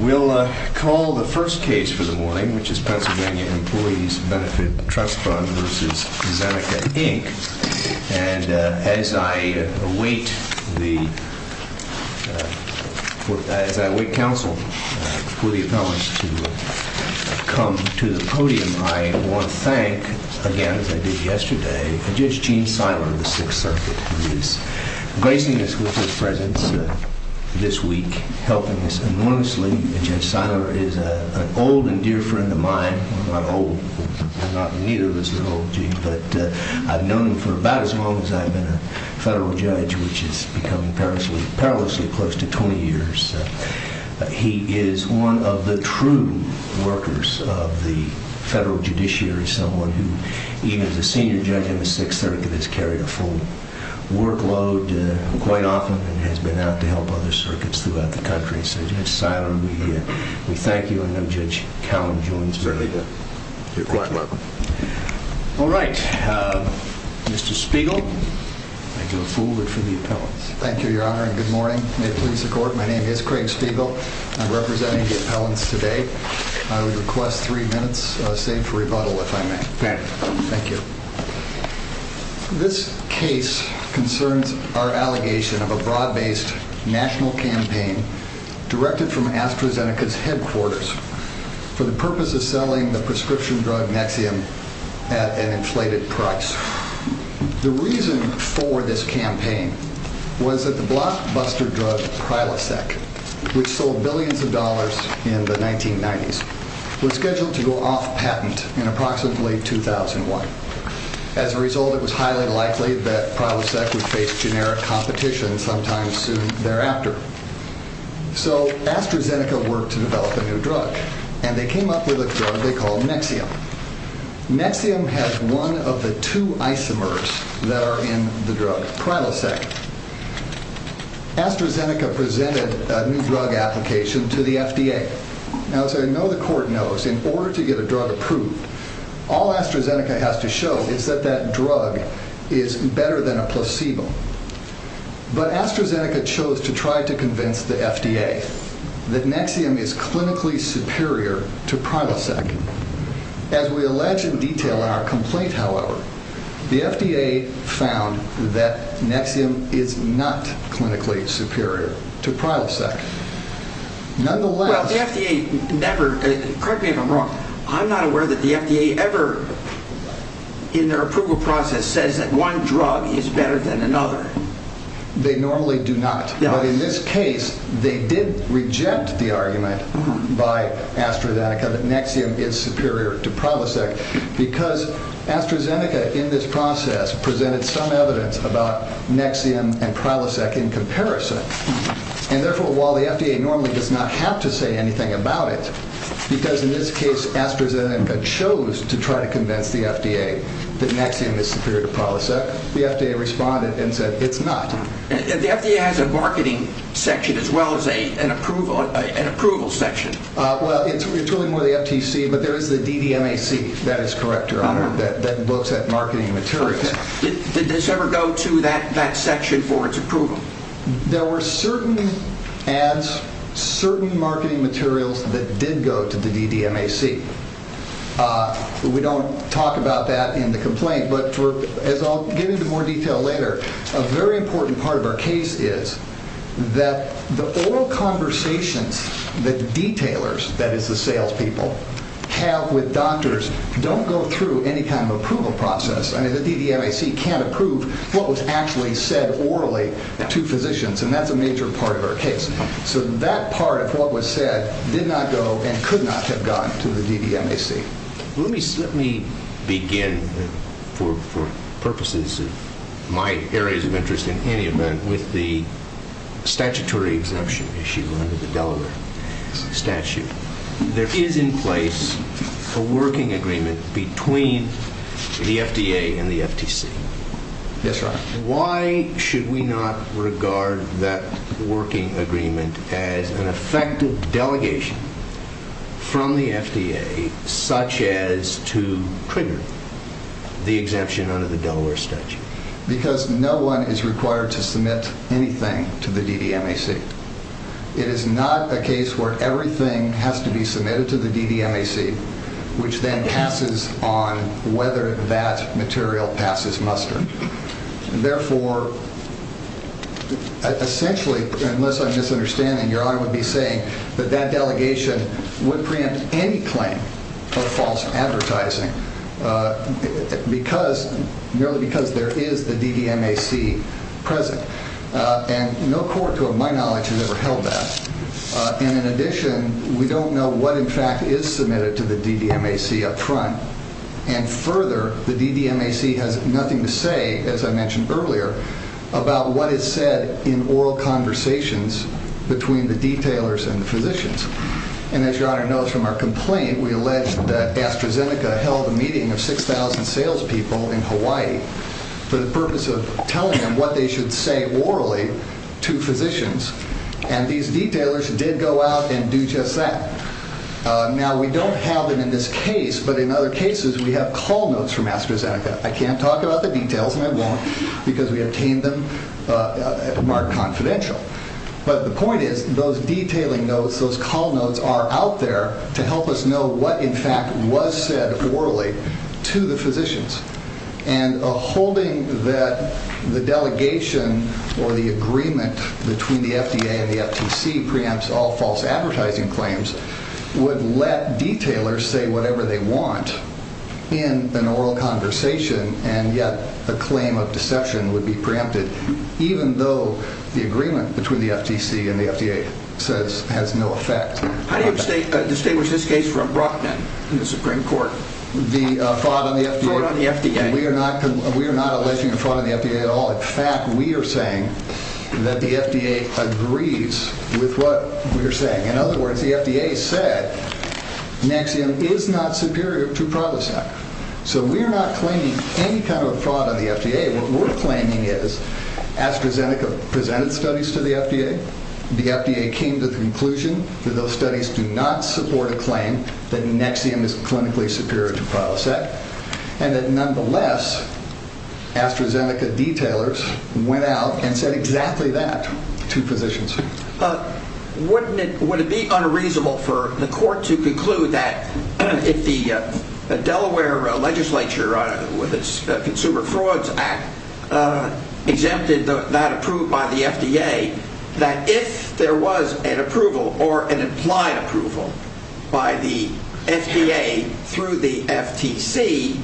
We'll call the first case for the morning, which is Pennsylvania Employees Benefit Trust Fund v. Zeneca Inc. And as I await counsel for the appellants to come to the podium, I want to thank, again, as I did yesterday, Judge Gene Siler of the Sixth Circuit, who is gracing us with his presence this week, helping us enormously. Judge Siler is an old and dear friend of mine. I'm not old. Neither of us are old, Gene, but I've known him for about as long as I've been a federal judge, which has become perilously close to 20 years. He is one of the true workers of the federal judiciary, someone who, even as a senior judge in the Sixth Circuit, has carried a full workload quite often and has been out to help other circuits throughout the country. So, Judge Siler, we thank you. I know Judge Callum joins us. You're quite welcome. All right. Mr. Spiegel, I go forward for the appellants. Thank you, Your Honor, and good morning. May it please the Court, my name is Craig Spiegel. I'm representing the appellants today. I would request three minutes saved for rebuttal, if I may. Thank you. This case concerns our allegation of a broad-based national campaign directed from AstraZeneca's headquarters for the purpose of selling the prescription drug Nexium at an inflated price. The reason for this campaign was that the blockbuster drug Prilosec, which sold billions of dollars in the 1990s, was scheduled to go off patent in approximately 2001. As a result, it was highly likely that Prilosec would face generic competition sometime soon thereafter. So AstraZeneca worked to develop a new drug, and they came up with a drug they called Nexium. Nexium has one of the two isomers that are in the drug, Prilosec. AstraZeneca presented a new drug application to the FDA. Now, as I know the Court knows, in order to get a drug approved, all AstraZeneca has to show is that that drug is better than a placebo. But AstraZeneca chose to try to convince the FDA that Nexium is clinically superior to Prilosec. As we allege in detail in our complaint, however, the FDA found that Nexium is not clinically superior to Prilosec. Nonetheless... Well, the FDA never... correct me if I'm wrong... I'm not aware that the FDA ever, in their approval process, says that one drug is better than another. They normally do not. But in this case, they did reject the argument by AstraZeneca that Nexium is superior to Prilosec. Because AstraZeneca, in this process, presented some evidence about Nexium and Prilosec in comparison. And therefore, while the FDA normally does not have to say anything about it, because in this case, AstraZeneca chose to try to convince the FDA that Nexium is superior to Prilosec, the FDA responded and said, it's not. The FDA has a marketing section as well as an approval section. Well, it's really more the FTC, but there is the DDMAC. That is correct, Your Honor. That looks at marketing materials. Did this ever go to that section for its approval? There were certain ads, certain marketing materials that did go to the DDMAC. We don't talk about that in the complaint, but as I'll get into more detail later, a very important part of our case is that the oral conversations that the detailers, that is the salespeople, have with doctors don't go through any kind of approval process. I mean, the DDMAC can't approve what was actually said orally to physicians, and that's a major part of our case. So that part of what was said did not go and could not have gone to the DDMAC. Let me begin, for purposes of my areas of interest in any event, with the statutory exemption issue under the Delaware statute. There is in place a working agreement between the FDA and the FTC. Yes, Your Honor. Why should we not regard that working agreement as an effective delegation from the FDA, such as to trigger the exemption under the Delaware statute? Because no one is required to submit anything to the DDMAC. It is not a case where everything has to be submitted to the DDMAC, which then passes on whether that material passes muster. Therefore, essentially, unless I'm misunderstanding, Your Honor would be saying that that delegation would preempt any claim of false advertising, merely because there is the DDMAC present. And no court, to my knowledge, has ever held that. And in addition, we don't know what, in fact, is submitted to the DDMAC up front. And further, the DDMAC has nothing to say, as I mentioned earlier, about what is said in oral conversations between the detailers and the physicians. And as Your Honor knows from our complaint, we allege that AstraZeneca held a meeting of 6,000 salespeople in Hawaii for the purpose of telling them what they should say orally to physicians. And these detailers did go out and do just that. Now, we don't have them in this case, but in other cases we have call notes from AstraZeneca. I can't talk about the details, and I won't, because we obtained them at a marked confidential. But the point is, those detailing notes, those call notes, are out there to help us know what, in fact, was said orally to the physicians. And holding that the delegation or the agreement between the FDA and the FTC preempts all false advertising claims would let detailers say whatever they want in an oral conversation, and yet a claim of deception would be preempted, even though the agreement between the FTC and the FDA says it has no effect. How do you distinguish this case from Brockman in the Supreme Court? The fraud on the FDA? Fraud on the FDA. We are not alleging a fraud on the FDA at all. In fact, we are saying that the FDA agrees with what we are saying. In other words, the FDA said Nexium is not superior to Prolisac. So we are not claiming any kind of fraud on the FDA. What we're claiming is AstraZeneca presented studies to the FDA. The FDA came to the conclusion that those studies do not support a claim that Nexium is clinically superior to Prolisac, and that nonetheless AstraZeneca detailers went out and said exactly that to physicians. Wouldn't it be unreasonable for the court to conclude that if the Delaware legislature, with its Consumer Frauds Act, exempted that approved by the FDA, that if there was an approval or an implied approval by the FDA through the FTC,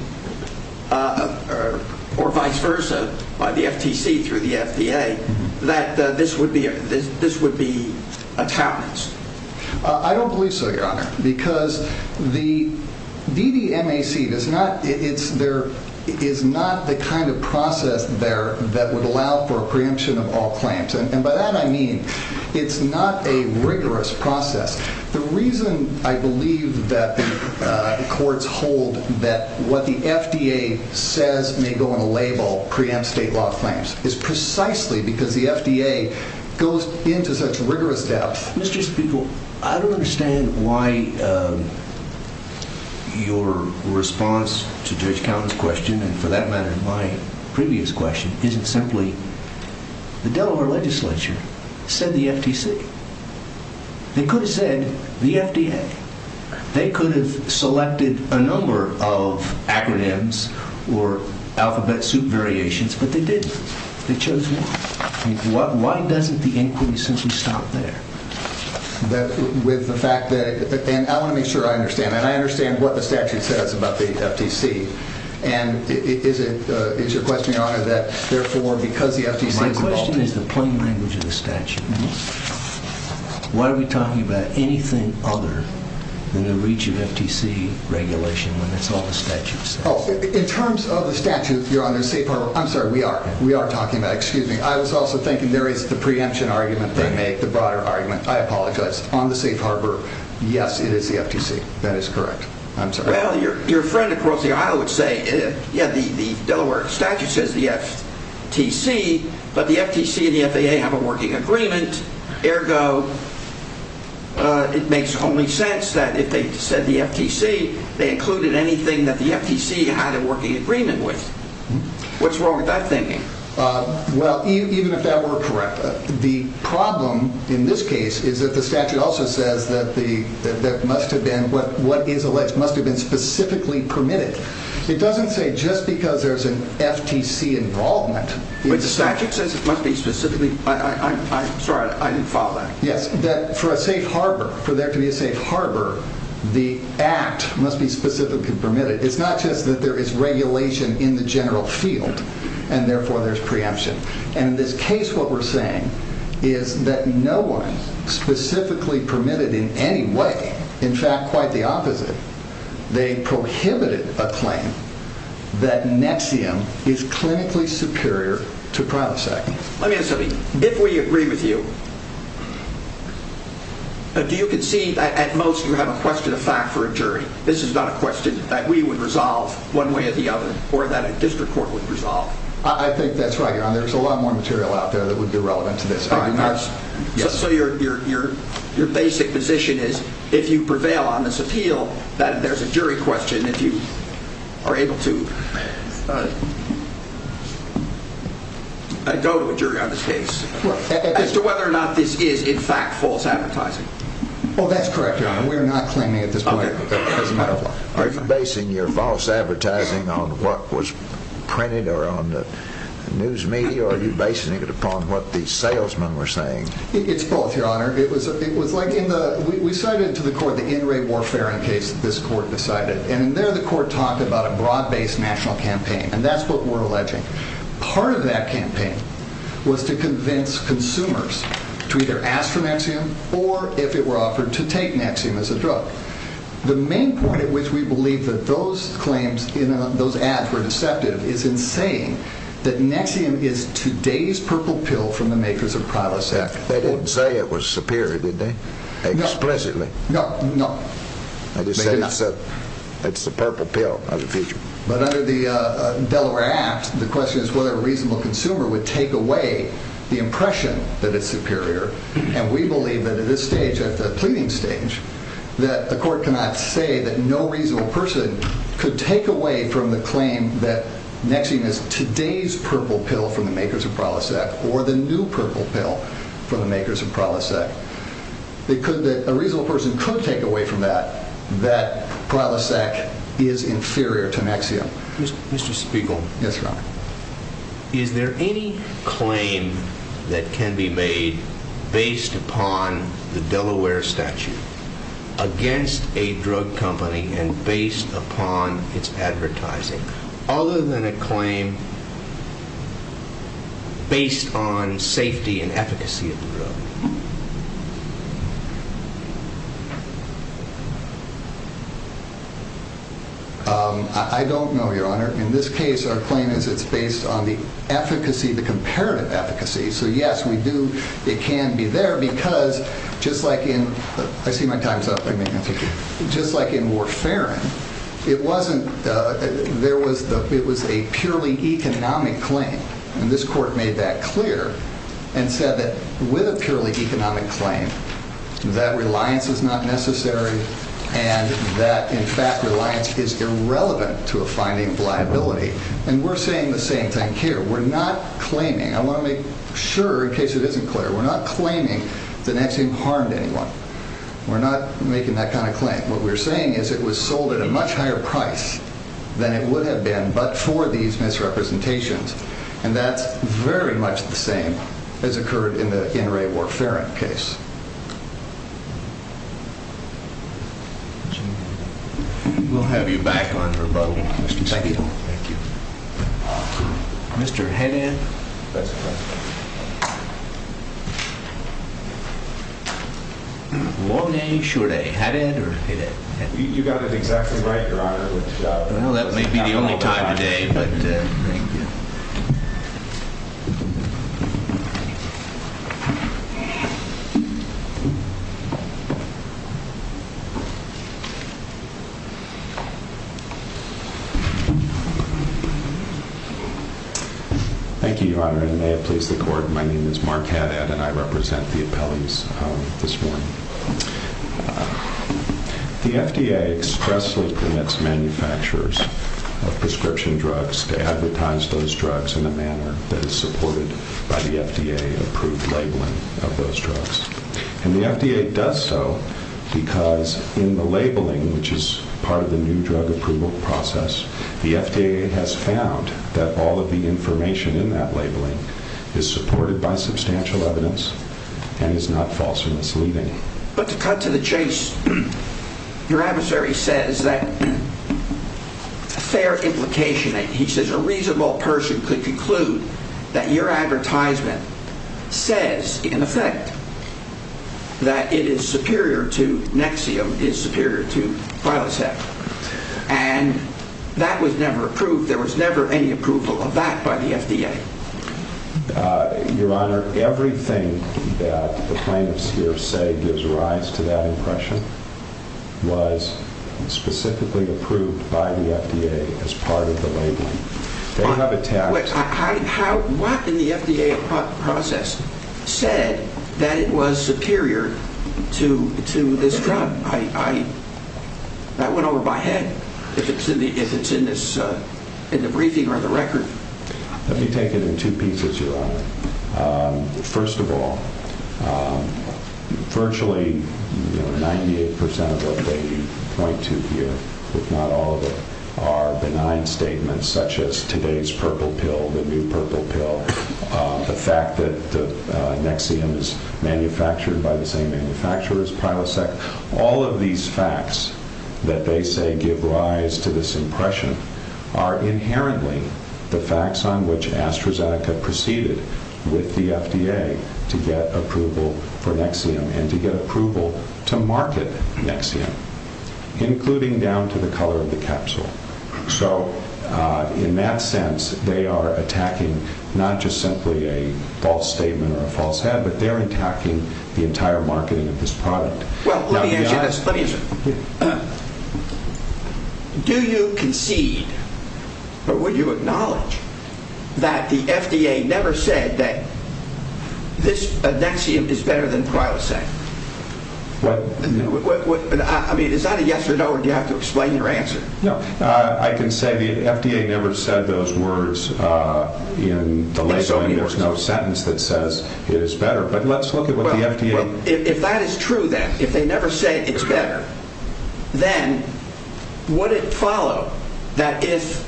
or vice versa, by the FTC through the FDA, that this would be a talents? I don't believe so, Your Honor, because the DDMAC is not the kind of process there that would allow for a preemption of all claims. And by that I mean it's not a rigorous process. The reason I believe that the courts hold that what the FDA says may go on a label preempts state law claims is precisely because the FDA goes into such rigorous depth. Mr. Speaker, I don't understand why your response to Judge Counten's question, and for that matter my previous question, isn't simply, the Delaware legislature said the FTC. They could have said the FDA. They could have selected a number of acronyms or alphabet soup variations, but they didn't. They chose one. Why doesn't the inquiry simply stop there? With the fact that, and I want to make sure I understand, and I understand what the statute says about the FTC, and is it your question, Your Honor, that therefore because the FTC is involved in it? My question is the plain language of the statute. Why are we talking about anything other than the reach of FTC regulation when that's all the statute says? In terms of the statute, Your Honor, Safe Harbor, I'm sorry, we are talking about it. Excuse me, I was also thinking there is the preemption argument they make, the broader argument. I apologize. On the Safe Harbor, yes, it is the FTC. That is correct. I'm sorry. Well, your friend across the aisle would say, yeah, the Delaware statute says the FTC, but the FTC and the FAA have a working agreement. Ergo, it makes only sense that if they said the FTC, they included anything that the FTC had a working agreement with. What's wrong with that thinking? Well, even if that were correct, the problem in this case is that the statute also says that what is alleged must have been specifically permitted. It doesn't say just because there's an FTC involvement. But the statute says it must be specifically, I'm sorry, I didn't follow that. Yes, that for a safe harbor, for there to be a safe harbor, the act must be specifically permitted. It's not just that there is regulation in the general field and therefore there's preemption. And in this case, what we're saying is that no one specifically permitted in any way. In fact, quite the opposite. They prohibited a claim that NXIVM is clinically superior to Prilosec. Let me ask something. If we agree with you, do you concede that at most you have a question of fact for a jury? This is not a question that we would resolve one way or the other or that a district court would resolve. I think that's right. There's a lot more material out there that would be relevant to this. So your basic position is if you prevail on this appeal, that there's a jury question if you are able to go to a jury on this case. As to whether or not this is in fact false advertising. Well, that's correct, Your Honor. We're not claiming at this point. Are you basing your false advertising on what was printed or on the news media? Are you basing it upon what the salesmen were saying? It's both, Your Honor. It was like we cited to the court the NRA warfare in case this court decided. And there the court talked about a broad-based national campaign. And that's what we're alleging. Part of that campaign was to convince consumers to either ask for NXIVM or, if it were offered, to take NXIVM as a drug. The main point at which we believe that those ads were deceptive is in saying that NXIVM is today's purple pill from the makers of Prilosec. They didn't say it was superior, did they? Explicitly? No. They just said it's the purple pill of the future. But under the Delaware Act, the question is whether a reasonable consumer would take away the impression that it's superior. And we believe that at this stage, at the pleading stage, that the court cannot say that no reasonable person could take away from the claim that NXIVM is today's purple pill from the makers of Prilosec or the new purple pill from the makers of Prilosec. A reasonable person could take away from that that Prilosec is inferior to NXIVM. Mr. Spiegel. Yes, Your Honor. Is there any claim that can be made based upon the Delaware statute against a drug company and based upon its advertising, other than a claim based on safety and efficacy of the drug? I don't know, Your Honor. In this case, our claim is it's based on the efficacy, the comparative efficacy. So, yes, we do. It can be there because just like in, I see my time's up. Just like in Warfarin, it wasn't, there was, it was a purely economic claim. And this court made that clear and said that with a purely economic claim, that reliance is not necessary and that, in fact, reliance is irrelevant to a finding of liability. And we're saying the same thing here. We're not claiming. I want to make sure, in case it isn't clear, we're not claiming that NXIVM harmed anyone. We're not making that kind of claim. What we're saying is it was sold at a much higher price than it would have been but for these misrepresentations. And that's very much the same as occurred in the NRA Warfarin case. We'll have you back on rebuttal, Mr. Steele. Thank you. Mr. Haddad. That's correct. Long day, short day. Haddad or Haddad? You got it exactly right, Your Honor. Well, that may be the only time of day, but thank you. Thank you. Thank you, Your Honor, and may it please the court, my name is Mark Haddad and I represent the appellees this morning. The FDA expressly permits manufacturers of prescription drugs to advertise those drugs in a manner that is supported by the FDA-approved labeling of those drugs. And the FDA does so because in the labeling, which is part of the new drug approval process, the FDA has found that all of the information in that labeling is supported by substantial evidence and is not false or misleading. But to cut to the chase, your adversary says that a fair implication, he says a reasonable person could conclude that your advertisement says, in effect, that it is superior to Nexium, is superior to Prilosec. And that was never approved, there was never any approval of that by the FDA. Your Honor, everything that the plaintiffs here say gives rise to that impression was specifically approved by the FDA as part of the labeling. What in the FDA process said that it was superior to this drug? That went over my head, if it's in the briefing or the record. Let me take it in two pieces, your Honor. First of all, virtually 98% of what they point to here, if not all of it, are benign statements such as today's purple pill, the new purple pill, the fact that Nexium is manufactured by the same manufacturer as Prilosec. All of these facts that they say give rise to this impression are inherently the facts on which AstraZeneca proceeded with the FDA to get approval for Nexium and to get approval to market Nexium, including down to the color of the capsule. So, in that sense, they are attacking not just simply a false statement or a false head, but they're attacking the entire marketing of this product. Well, let me ask you this. Do you concede or would you acknowledge that the FDA never said that this Nexium is better than Prilosec? I mean, is that a yes or no, or do you have to explain your answer? No, I can say the FDA never said those words in the labeling. There's no sentence that says it is better. Well, if that is true then, if they never say it's better, then would it follow that if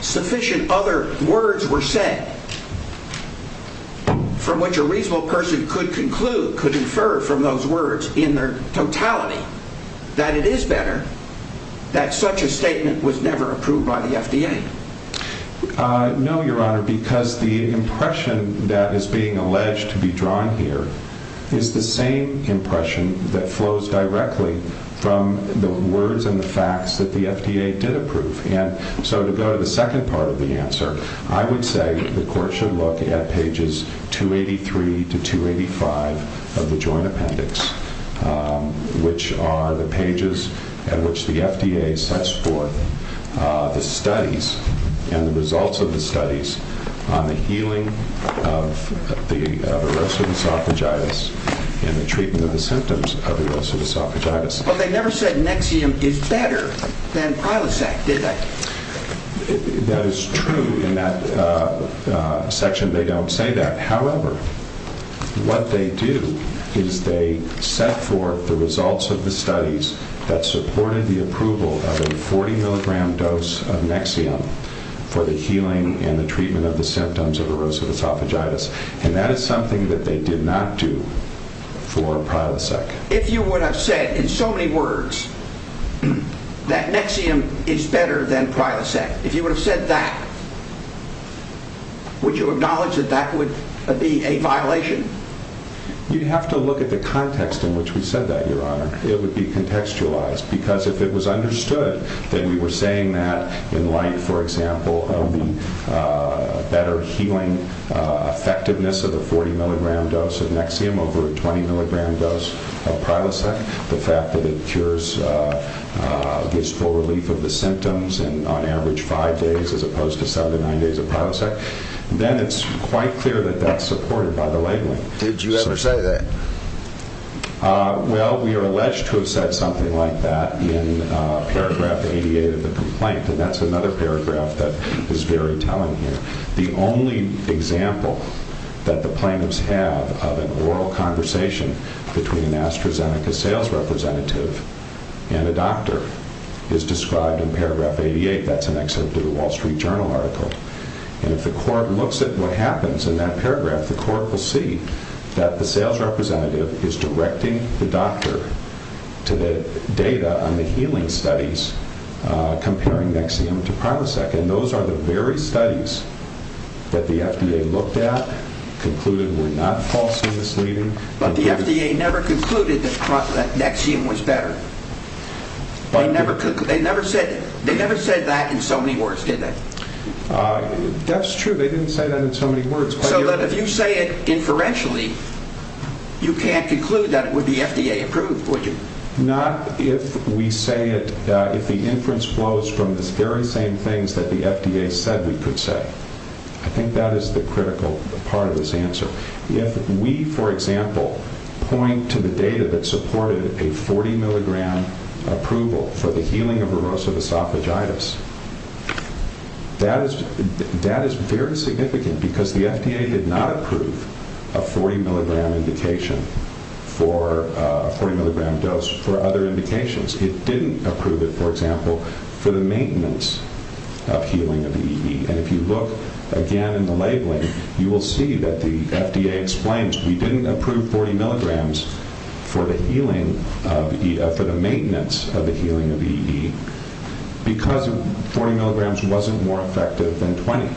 sufficient other words were said from which a reasonable person could conclude, could infer from those words in their totality, that it is better that such a statement was never approved by the FDA? No, Your Honor, because the impression that is being alleged to be drawn here is the same impression that flows directly from the words and the facts that the FDA did approve. So, to go to the second part of the answer, I would say the Court should look at pages 283 to 285 of the Joint Appendix, which are the pages at which the FDA sets forth the studies and the results of the studies on the healing of erosive esophagitis and the treatment of the symptoms of erosive esophagitis. But they never said Nexium is better than Prilosec, did they? That is true in that section they don't say that. However, what they do is they set forth the results of the studies that supported the approval of a 40 mg dose of Nexium for the healing and the treatment of the symptoms of erosive esophagitis. And that is something that they did not do for Prilosec. If you would have said in so many words that Nexium is better than Prilosec, if you would have said that, would you acknowledge that that would be a violation? You'd have to look at the context in which we said that, Your Honor. It would be contextualized. Because if it was understood that we were saying that in light, for example, of the better healing effectiveness of the 40 mg dose of Nexium over a 20 mg dose of Prilosec, the fact that it cures, gives full relief of the symptoms in on average five days as opposed to seven to nine days of Prilosec, then it's quite clear that that's supported by the labeling. Did you ever say that? That the sales representative is directing the doctor to the data on the healing studies comparing Nexium to Prilosec. And those are the very studies that the FDA looked at, concluded were not falsely misleading. But the FDA never concluded that Nexium was better. They never said that in so many words, did they? That's true. They didn't say that in so many words. So if you say it inferentially, you can't conclude that it would be FDA approved, would you? Not if we say it, if the inference flows from the very same things that the FDA said we could say. I think that is the critical part of this answer. If we, for example, point to the data that supported a 40 mg approval for the healing of erosive esophagitis, that is very significant because the FDA did not approve a 40 mg dose for other indications. It didn't approve it, for example, for the maintenance of healing of EE. And if you look again in the labeling, you will see that the FDA explains we didn't approve 40 mg for the maintenance of the healing of EE because 40 mg wasn't more effective than 20.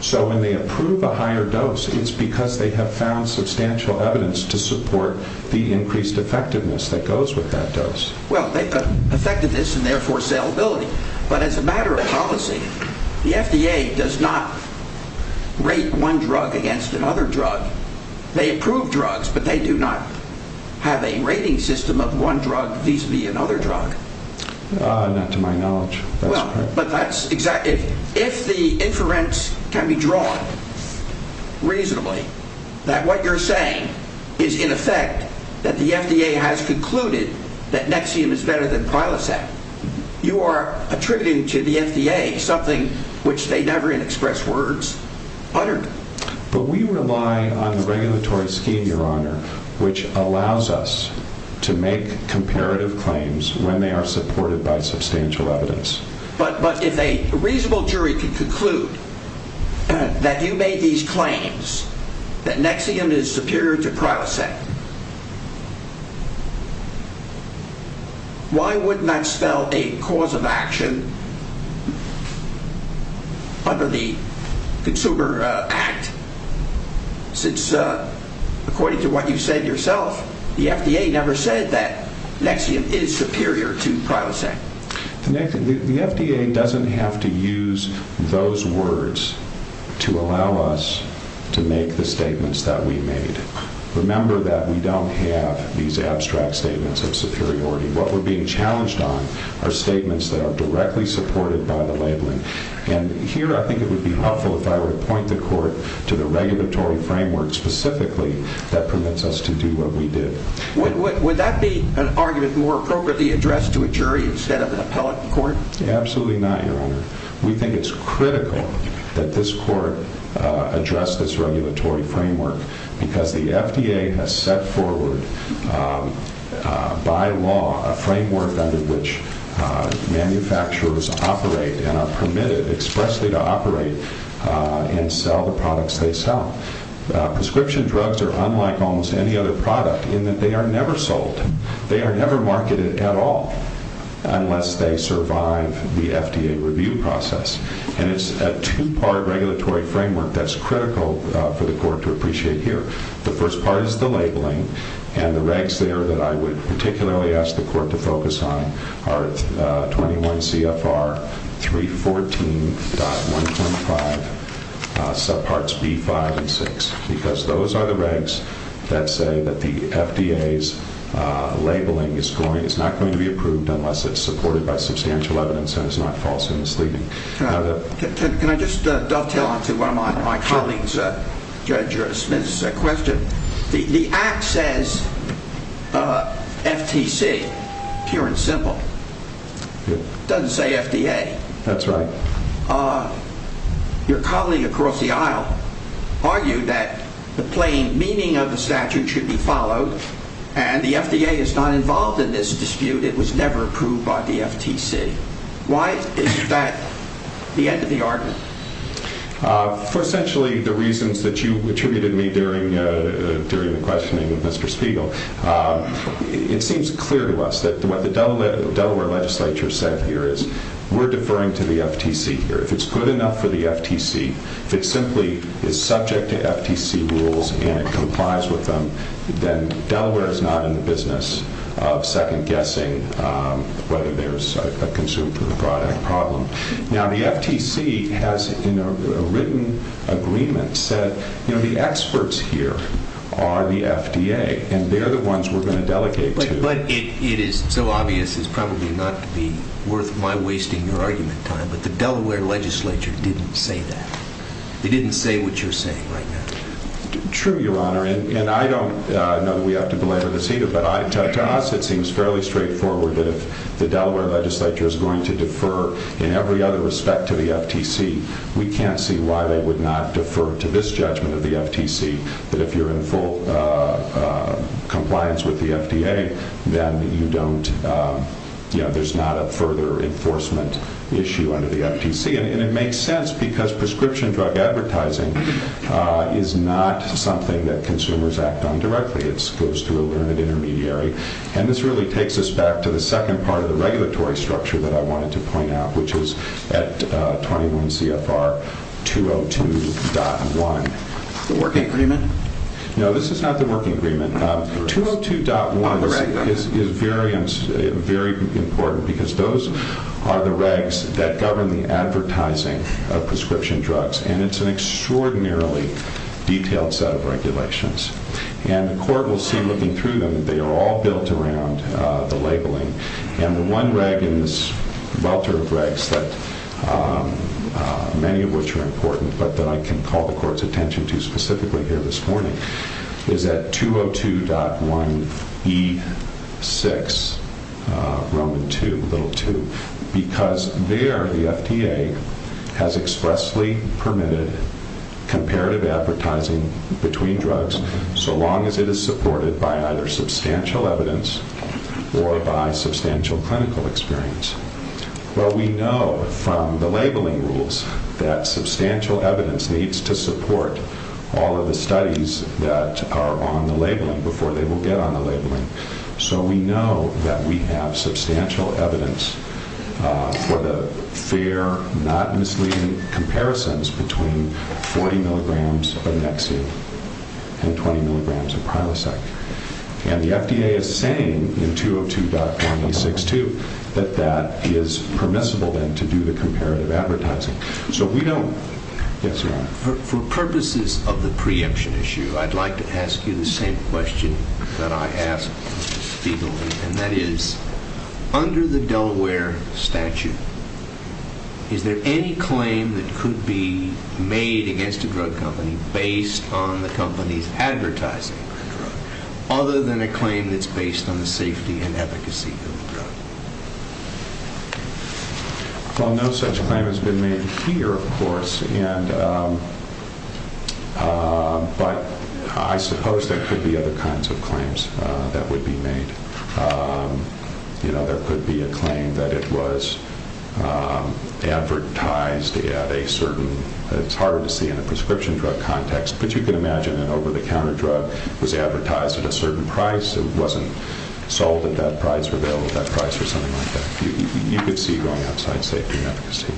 So when they approve a higher dose, it's because they have found substantial evidence to support the increased effectiveness that goes with that dose. Well, effectiveness and therefore salability. But as a matter of policy, the FDA does not rate one drug against another drug. They approve drugs, but they do not have a rating system of one drug vis-a-vis another drug. Not to my knowledge. If the inference can be drawn reasonably that what you're saying is in effect that the FDA has concluded that Nexium is better than Prilosec, you are attributing to the FDA something which they never in express words uttered. But we rely on the regulatory scheme, Your Honor, which allows us to make comparative claims when they are supported by substantial evidence. But if a reasonable jury can conclude that you made these claims that Nexium is superior to Prilosec, why wouldn't that spell a cause of action under the Consumer Act? Since according to what you said yourself, the FDA never said that Nexium is superior to Prilosec. The FDA doesn't have to use those words to allow us to make the statements that we made. Remember that we don't have these abstract statements of superiority. What we're being challenged on are statements that are directly supported by the labeling. And here I think it would be helpful if I were to point the Court to the regulatory framework specifically that permits us to do what we did. Would that be an argument more appropriately addressed to a jury instead of an appellate court? Absolutely not, Your Honor. We think it's critical that this Court address this regulatory framework because the FDA has set forward by law a framework under which manufacturers operate and are permitted expressly to operate and sell the products they sell. Prescription drugs are unlike almost any other product in that they are never sold. They are never marketed at all unless they survive the FDA review process. And it's a two-part regulatory framework that's critical for the Court to appreciate here. The first part is the labeling and the regs there that I would particularly ask the Court to focus on are 21 CFR 314.125 subparts B5 and 6. Because those are the regs that say that the FDA's labeling is not going to be approved unless it's supported by substantial evidence and is not false or misleading. Can I just dovetail onto one of my colleagues, Judge Smith's question? The Act says FTC, pure and simple. It doesn't say FDA. That's right. Your colleague across the aisle argued that the plain meaning of the statute should be followed and the FDA is not involved in this dispute. It was never approved by the FTC. Why is that the end of the argument? For essentially the reasons that you attributed me during the questioning of Mr. Spiegel, it seems clear to us that what the Delaware legislature said here is we're deferring to the FTC here. If it's good enough for the FTC, if it simply is subject to FTC rules and it complies with them, then Delaware is not in the business of second-guessing whether there's a consumer product problem. Now the FTC has in a written agreement said the experts here are the FDA and they're the ones we're going to delegate to. But it is so obvious it's probably not to be worth my wasting your argument time, but the Delaware legislature didn't say that. They didn't say what you're saying right now. True, Your Honor, and I don't know that we have to belabor this either, but to us it seems fairly straightforward that if the Delaware legislature is going to defer in every other respect to the FTC, we can't see why they would not defer to this judgment of the FTC that if you're in full compliance with the FDA, then there's not a further enforcement issue under the FTC. And it makes sense because prescription drug advertising is not something that consumers act on directly. It goes through a learned intermediary. And this really takes us back to the second part of the regulatory structure that I wanted to point out, which is at 21 CFR 202.1. The working agreement? No, this is not the working agreement. 202.1 is very important because those are the regs that govern the advertising of prescription drugs. And it's an extraordinarily detailed set of regulations. And the court will see looking through them, they are all built around the labeling. And the one reg in this welter of regs that many of which are important, but that I can call the court's attention to specifically here this morning, is that 202.1 E6 Roman 2, little 2, because there the FDA has expressly permitted comparative advertising between drugs. So long as it is supported by either substantial evidence or by substantial clinical experience. Well, we know from the labeling rules that substantial evidence needs to support all of the studies that are on the labeling before they will get on the labeling. So we know that we have substantial evidence for the fair, not misleading comparisons between 40 milligrams of Nexium and 20 milligrams of Prilosec. And the FDA is saying in 202.1 E6.2 that that is permissible then to do the comparative advertising. So we don't. Yes, sir. For purposes of the preemption issue, I'd like to ask you the same question that I ask people. And that is, under the Delaware statute, is there any claim that could be made against a drug company based on the company's advertising other than a claim that's based on the safety and efficacy? Well, no such claim has been made here, of course. And but I suppose there could be other kinds of claims that would be made. You know, there could be a claim that it was advertised at a certain it's hard to see in a prescription drug context. But you can imagine that over-the-counter drug was advertised at a certain price. It wasn't sold at that price or available at that price or something like that. You could see going outside safety and efficacy.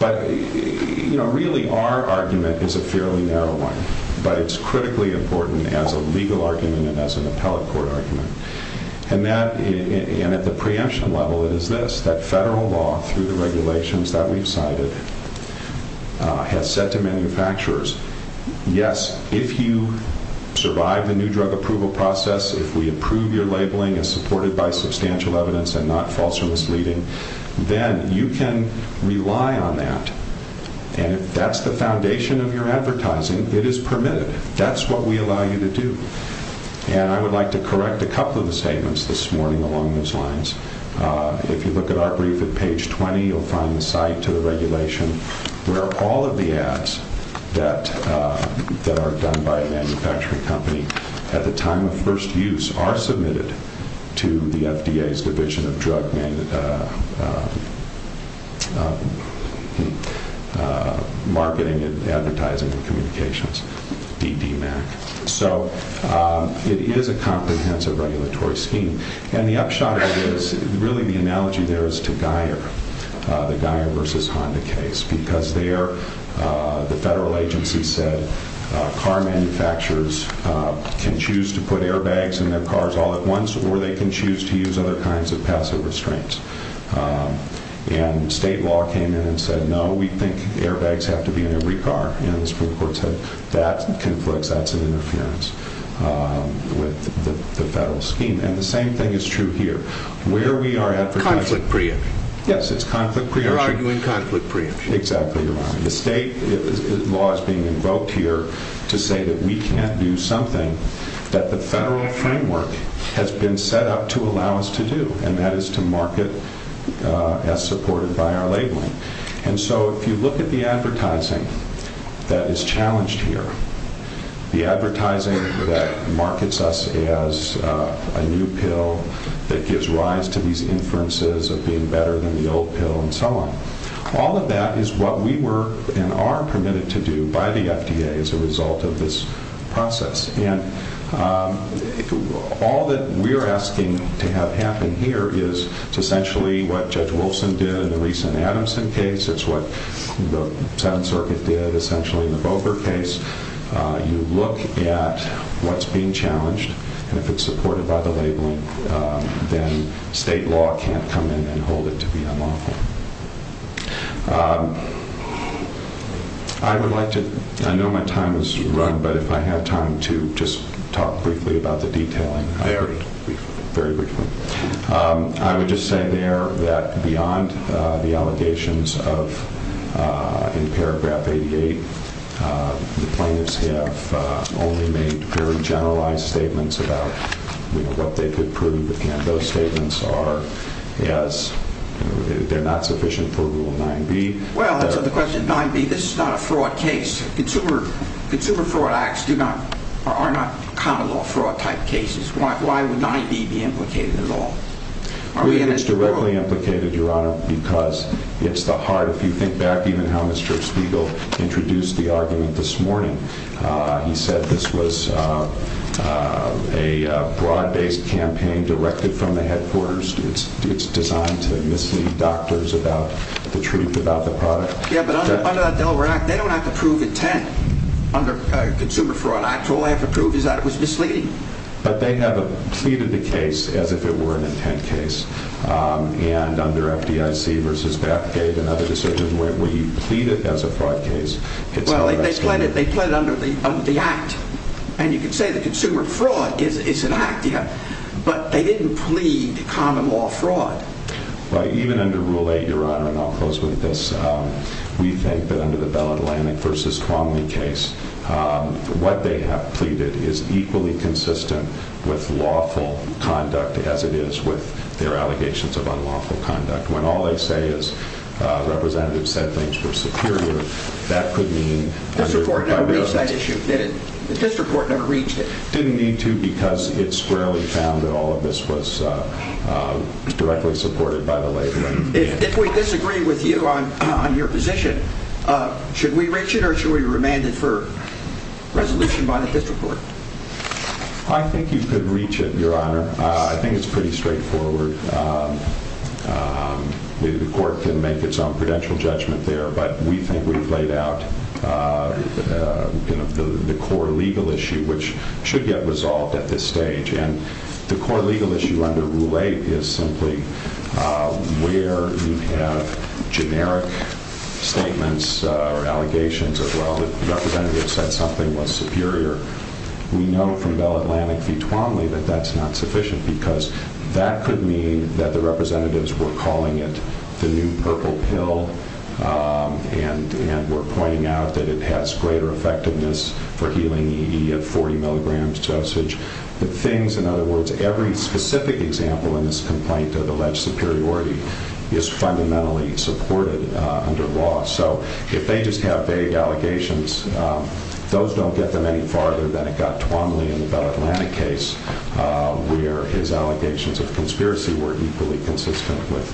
But, you know, really, our argument is a fairly narrow one. But it's critically important as a legal argument and as an appellate court argument. And at the preemption level, it is this, that federal law through the regulations that we've cited has said to manufacturers, yes, if you survive the new drug approval process, if we approve your labeling as supported by substantial evidence and not false or misleading, then you can rely on that. And if that's the foundation of your advertising, it is permitted. That's what we allow you to do. And I would like to correct a couple of the statements this morning along those lines. If you look at our brief at page 20, you'll find the site to the regulation where all of the ads that are done by a manufacturing company at the time of first use are submitted to the FDA's Division of Drug Marketing and Advertising and Communications, DDMAC. So it is a comprehensive regulatory scheme. And the upshot of it is really the analogy there is to Geier, the Geier versus Honda case, because there the federal agency said car manufacturers can choose to put airbags in their cars all at once or they can choose to use other kinds of passive restraints. And state law came in and said, no, we think airbags have to be in every car. And the Supreme Court said, that conflicts, that's an interference with the federal scheme. And the same thing is true here, where we are at. Yes, it's conflict preemption. You're arguing conflict preemption. Exactly. The state law is being invoked here to say that we can't do something that the federal framework has been set up to allow us to do, and that is to market as supported by our labeling. And so if you look at the advertising that is challenged here, the advertising that markets us as a new pill that gives rise to these inferences of being better than the old pill and so on, all of that is what we were and are permitted to do by the FDA as a result of this process. And all that we're asking to have happen here is essentially what Judge Wilson did in the recent Adamson case. It's what the Seventh Circuit did essentially in the Boker case. You look at what's being challenged, and if it's supported by the labeling, then state law can't come in and hold it to be unlawful. I would like to, I know my time is run, but if I had time to just talk briefly about the detailing. Very briefly. I would just say there that beyond the allegations in paragraph 88, the plaintiffs have only made very generalized statements about what they could prove. Again, those statements are not sufficient for Rule 9b. Well, that's the question. 9b, this is not a fraud case. Consumer fraud acts are not counter-law fraud type cases. Why would 9b be implicated in the law? It's directly implicated, Your Honor, because it's the heart. If you think back even how Mr. Spiegel introduced the argument this morning, he said this was a broad-based campaign directed from the headquarters. It's designed to mislead doctors about the truth about the product. Yeah, but under that Delaware Act, they don't have to prove intent under consumer fraud. All I have to prove is that it was misleading. But they have pleaded the case as if it were an intent case. And under FDIC v. Batcave and other decisions, where you plead it as a fraud case, it's not. Well, they plead it under the Act. And you can say that consumer fraud is an Act, yeah, but they didn't plead common law fraud. Even under Rule 8, Your Honor, and I'll close with this, we think that under the Bell Atlantic v. Quamley case, what they have pleaded is equally consistent with lawful conduct as it is with their allegations of unlawful conduct. When all they say is representatives said things were superior, that could mean... The district court never reached that issue, did it? The district court never reached it. Didn't need to because it squarely found that all of this was directly supported by the labeling. If we disagree with you on your position, should we reach it or should we remand it for resolution by the district court? I think you could reach it, Your Honor. I think it's pretty straightforward. The court can make its own prudential judgment there, but we think we've laid out the core legal issue, which should get resolved at this stage. And the core legal issue under Rule 8 is simply where you have generic statements or allegations of, well, the representatives said something was superior. We know from Bell Atlantic v. Quamley that that's not sufficient because that could mean that the representatives were calling it the new purple pill and were pointing out that it has greater effectiveness for healing ED at 40 milligrams dosage. In other words, every specific example in this complaint of alleged superiority is fundamentally supported under law. So if they just have vague allegations, those don't get them any farther than it got Quamley in the Bell Atlantic case where his allegations of conspiracy were equally consistent with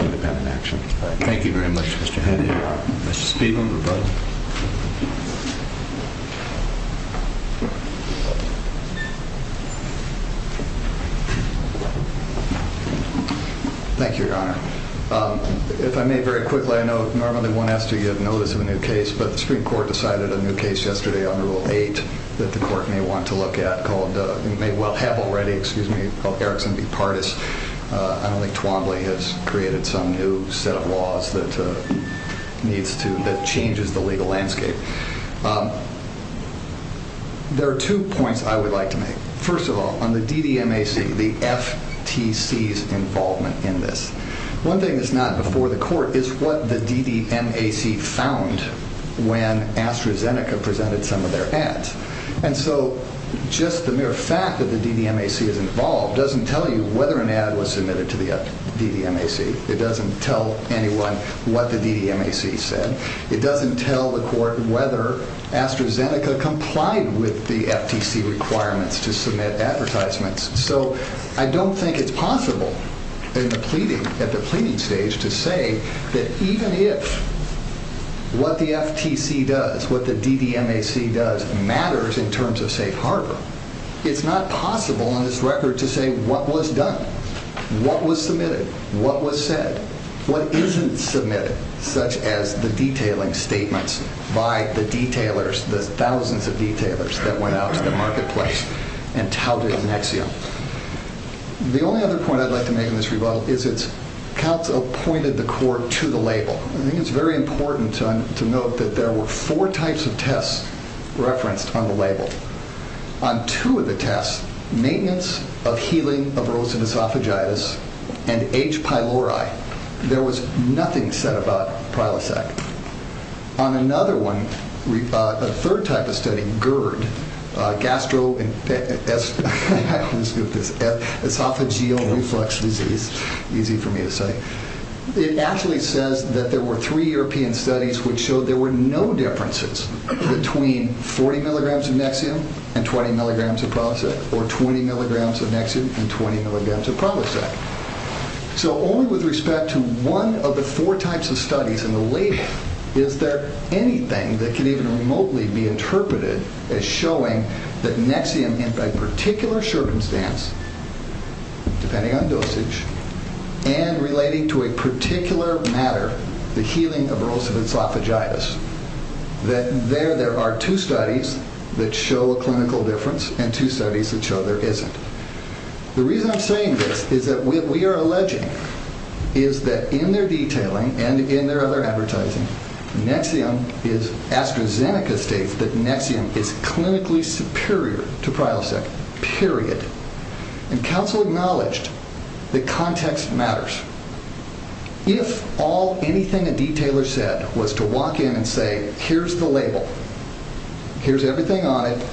independent action. Thank you very much, Mr. Henry. Mr. Spiegel, rebuttal. Thank you, Your Honor. If I may very quickly, I know normally one has to give notice of a new case, but the Supreme Court decided a new case yesterday under Rule 8 that the court may want to look at called, may well have already, excuse me, called Erickson v. Pardis. I don't think Quamley has created some new set of laws that needs to, that changes the legal landscape. There are two points I would like to make. First of all, on the DDMAC, the FTC's involvement in this. One thing that's not before the court is what the DDMAC found when AstraZeneca presented some of their ads. And so just the mere fact that the DDMAC is involved doesn't tell you whether an ad was submitted to the DDMAC. It doesn't tell anyone what the DDMAC said. It doesn't tell the court whether AstraZeneca complied with the FTC requirements to submit advertisements. So I don't think it's possible in the pleading, at the pleading stage, to say that even if what the FTC does, what the DDMAC does, matters in terms of safe harbor, it's not possible on this record to say what was done, what was submitted, what was said, what isn't submitted, such as the detailing statements by the detailers, the thousands of detailers that went out to the marketplace and touted Nexium. The only other point I'd like to make in this rebuttal is that counsel pointed the court to the label. Well, I think it's very important to note that there were four types of tests referenced on the label. On two of the tests, maintenance of healing of erosive esophagitis and H. pylori, there was nothing said about Prilosec. On another one, a third type of study, GERD, gastroesophageal reflux disease, easy for me to say, it actually says that there were three European studies which showed there were no differences between 40 mg of Nexium and 20 mg of Prilosec, or 20 mg of Nexium and 20 mg of Prilosec. So only with respect to one of the four types of studies in the label is there anything that can even remotely be interpreted as showing that Nexium, in a particular circumstance, depending on dosage, and relating to a particular matter, the healing of erosive esophagitis, that there are two studies that show a clinical difference and two studies that show there isn't. The reason I'm saying this is that what we are alleging is that in their detailing and in their other advertising, Nexium is, AstraZeneca states that Nexium is clinically superior to Prilosec, period. And counsel acknowledged that context matters. If all, anything a detailer said was to walk in and say, here's the label, here's everything on it,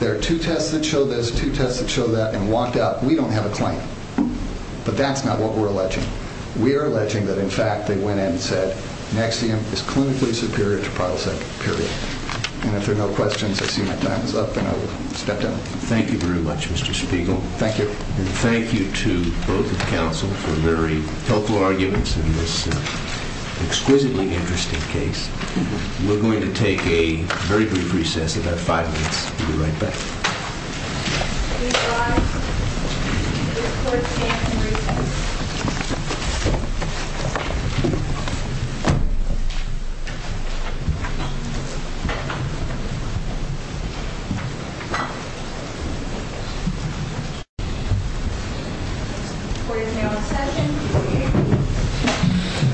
there are two tests that show this, two tests that show that, and walked out, we don't have a claim. But that's not what we're alleging. We are alleging that, in fact, they went in and said, Nexium is clinically superior to Prilosec, period. And if there are no questions, I see my time is up, and I'll step down. Thank you very much, Mr. Spiegel. Thank you. And thank you to both of the counsel for very helpful arguments in this exquisitely interesting case. We're going to take a very brief recess, about five minutes. We'll be right back. Thank you for your patience and recess. Court is now in session.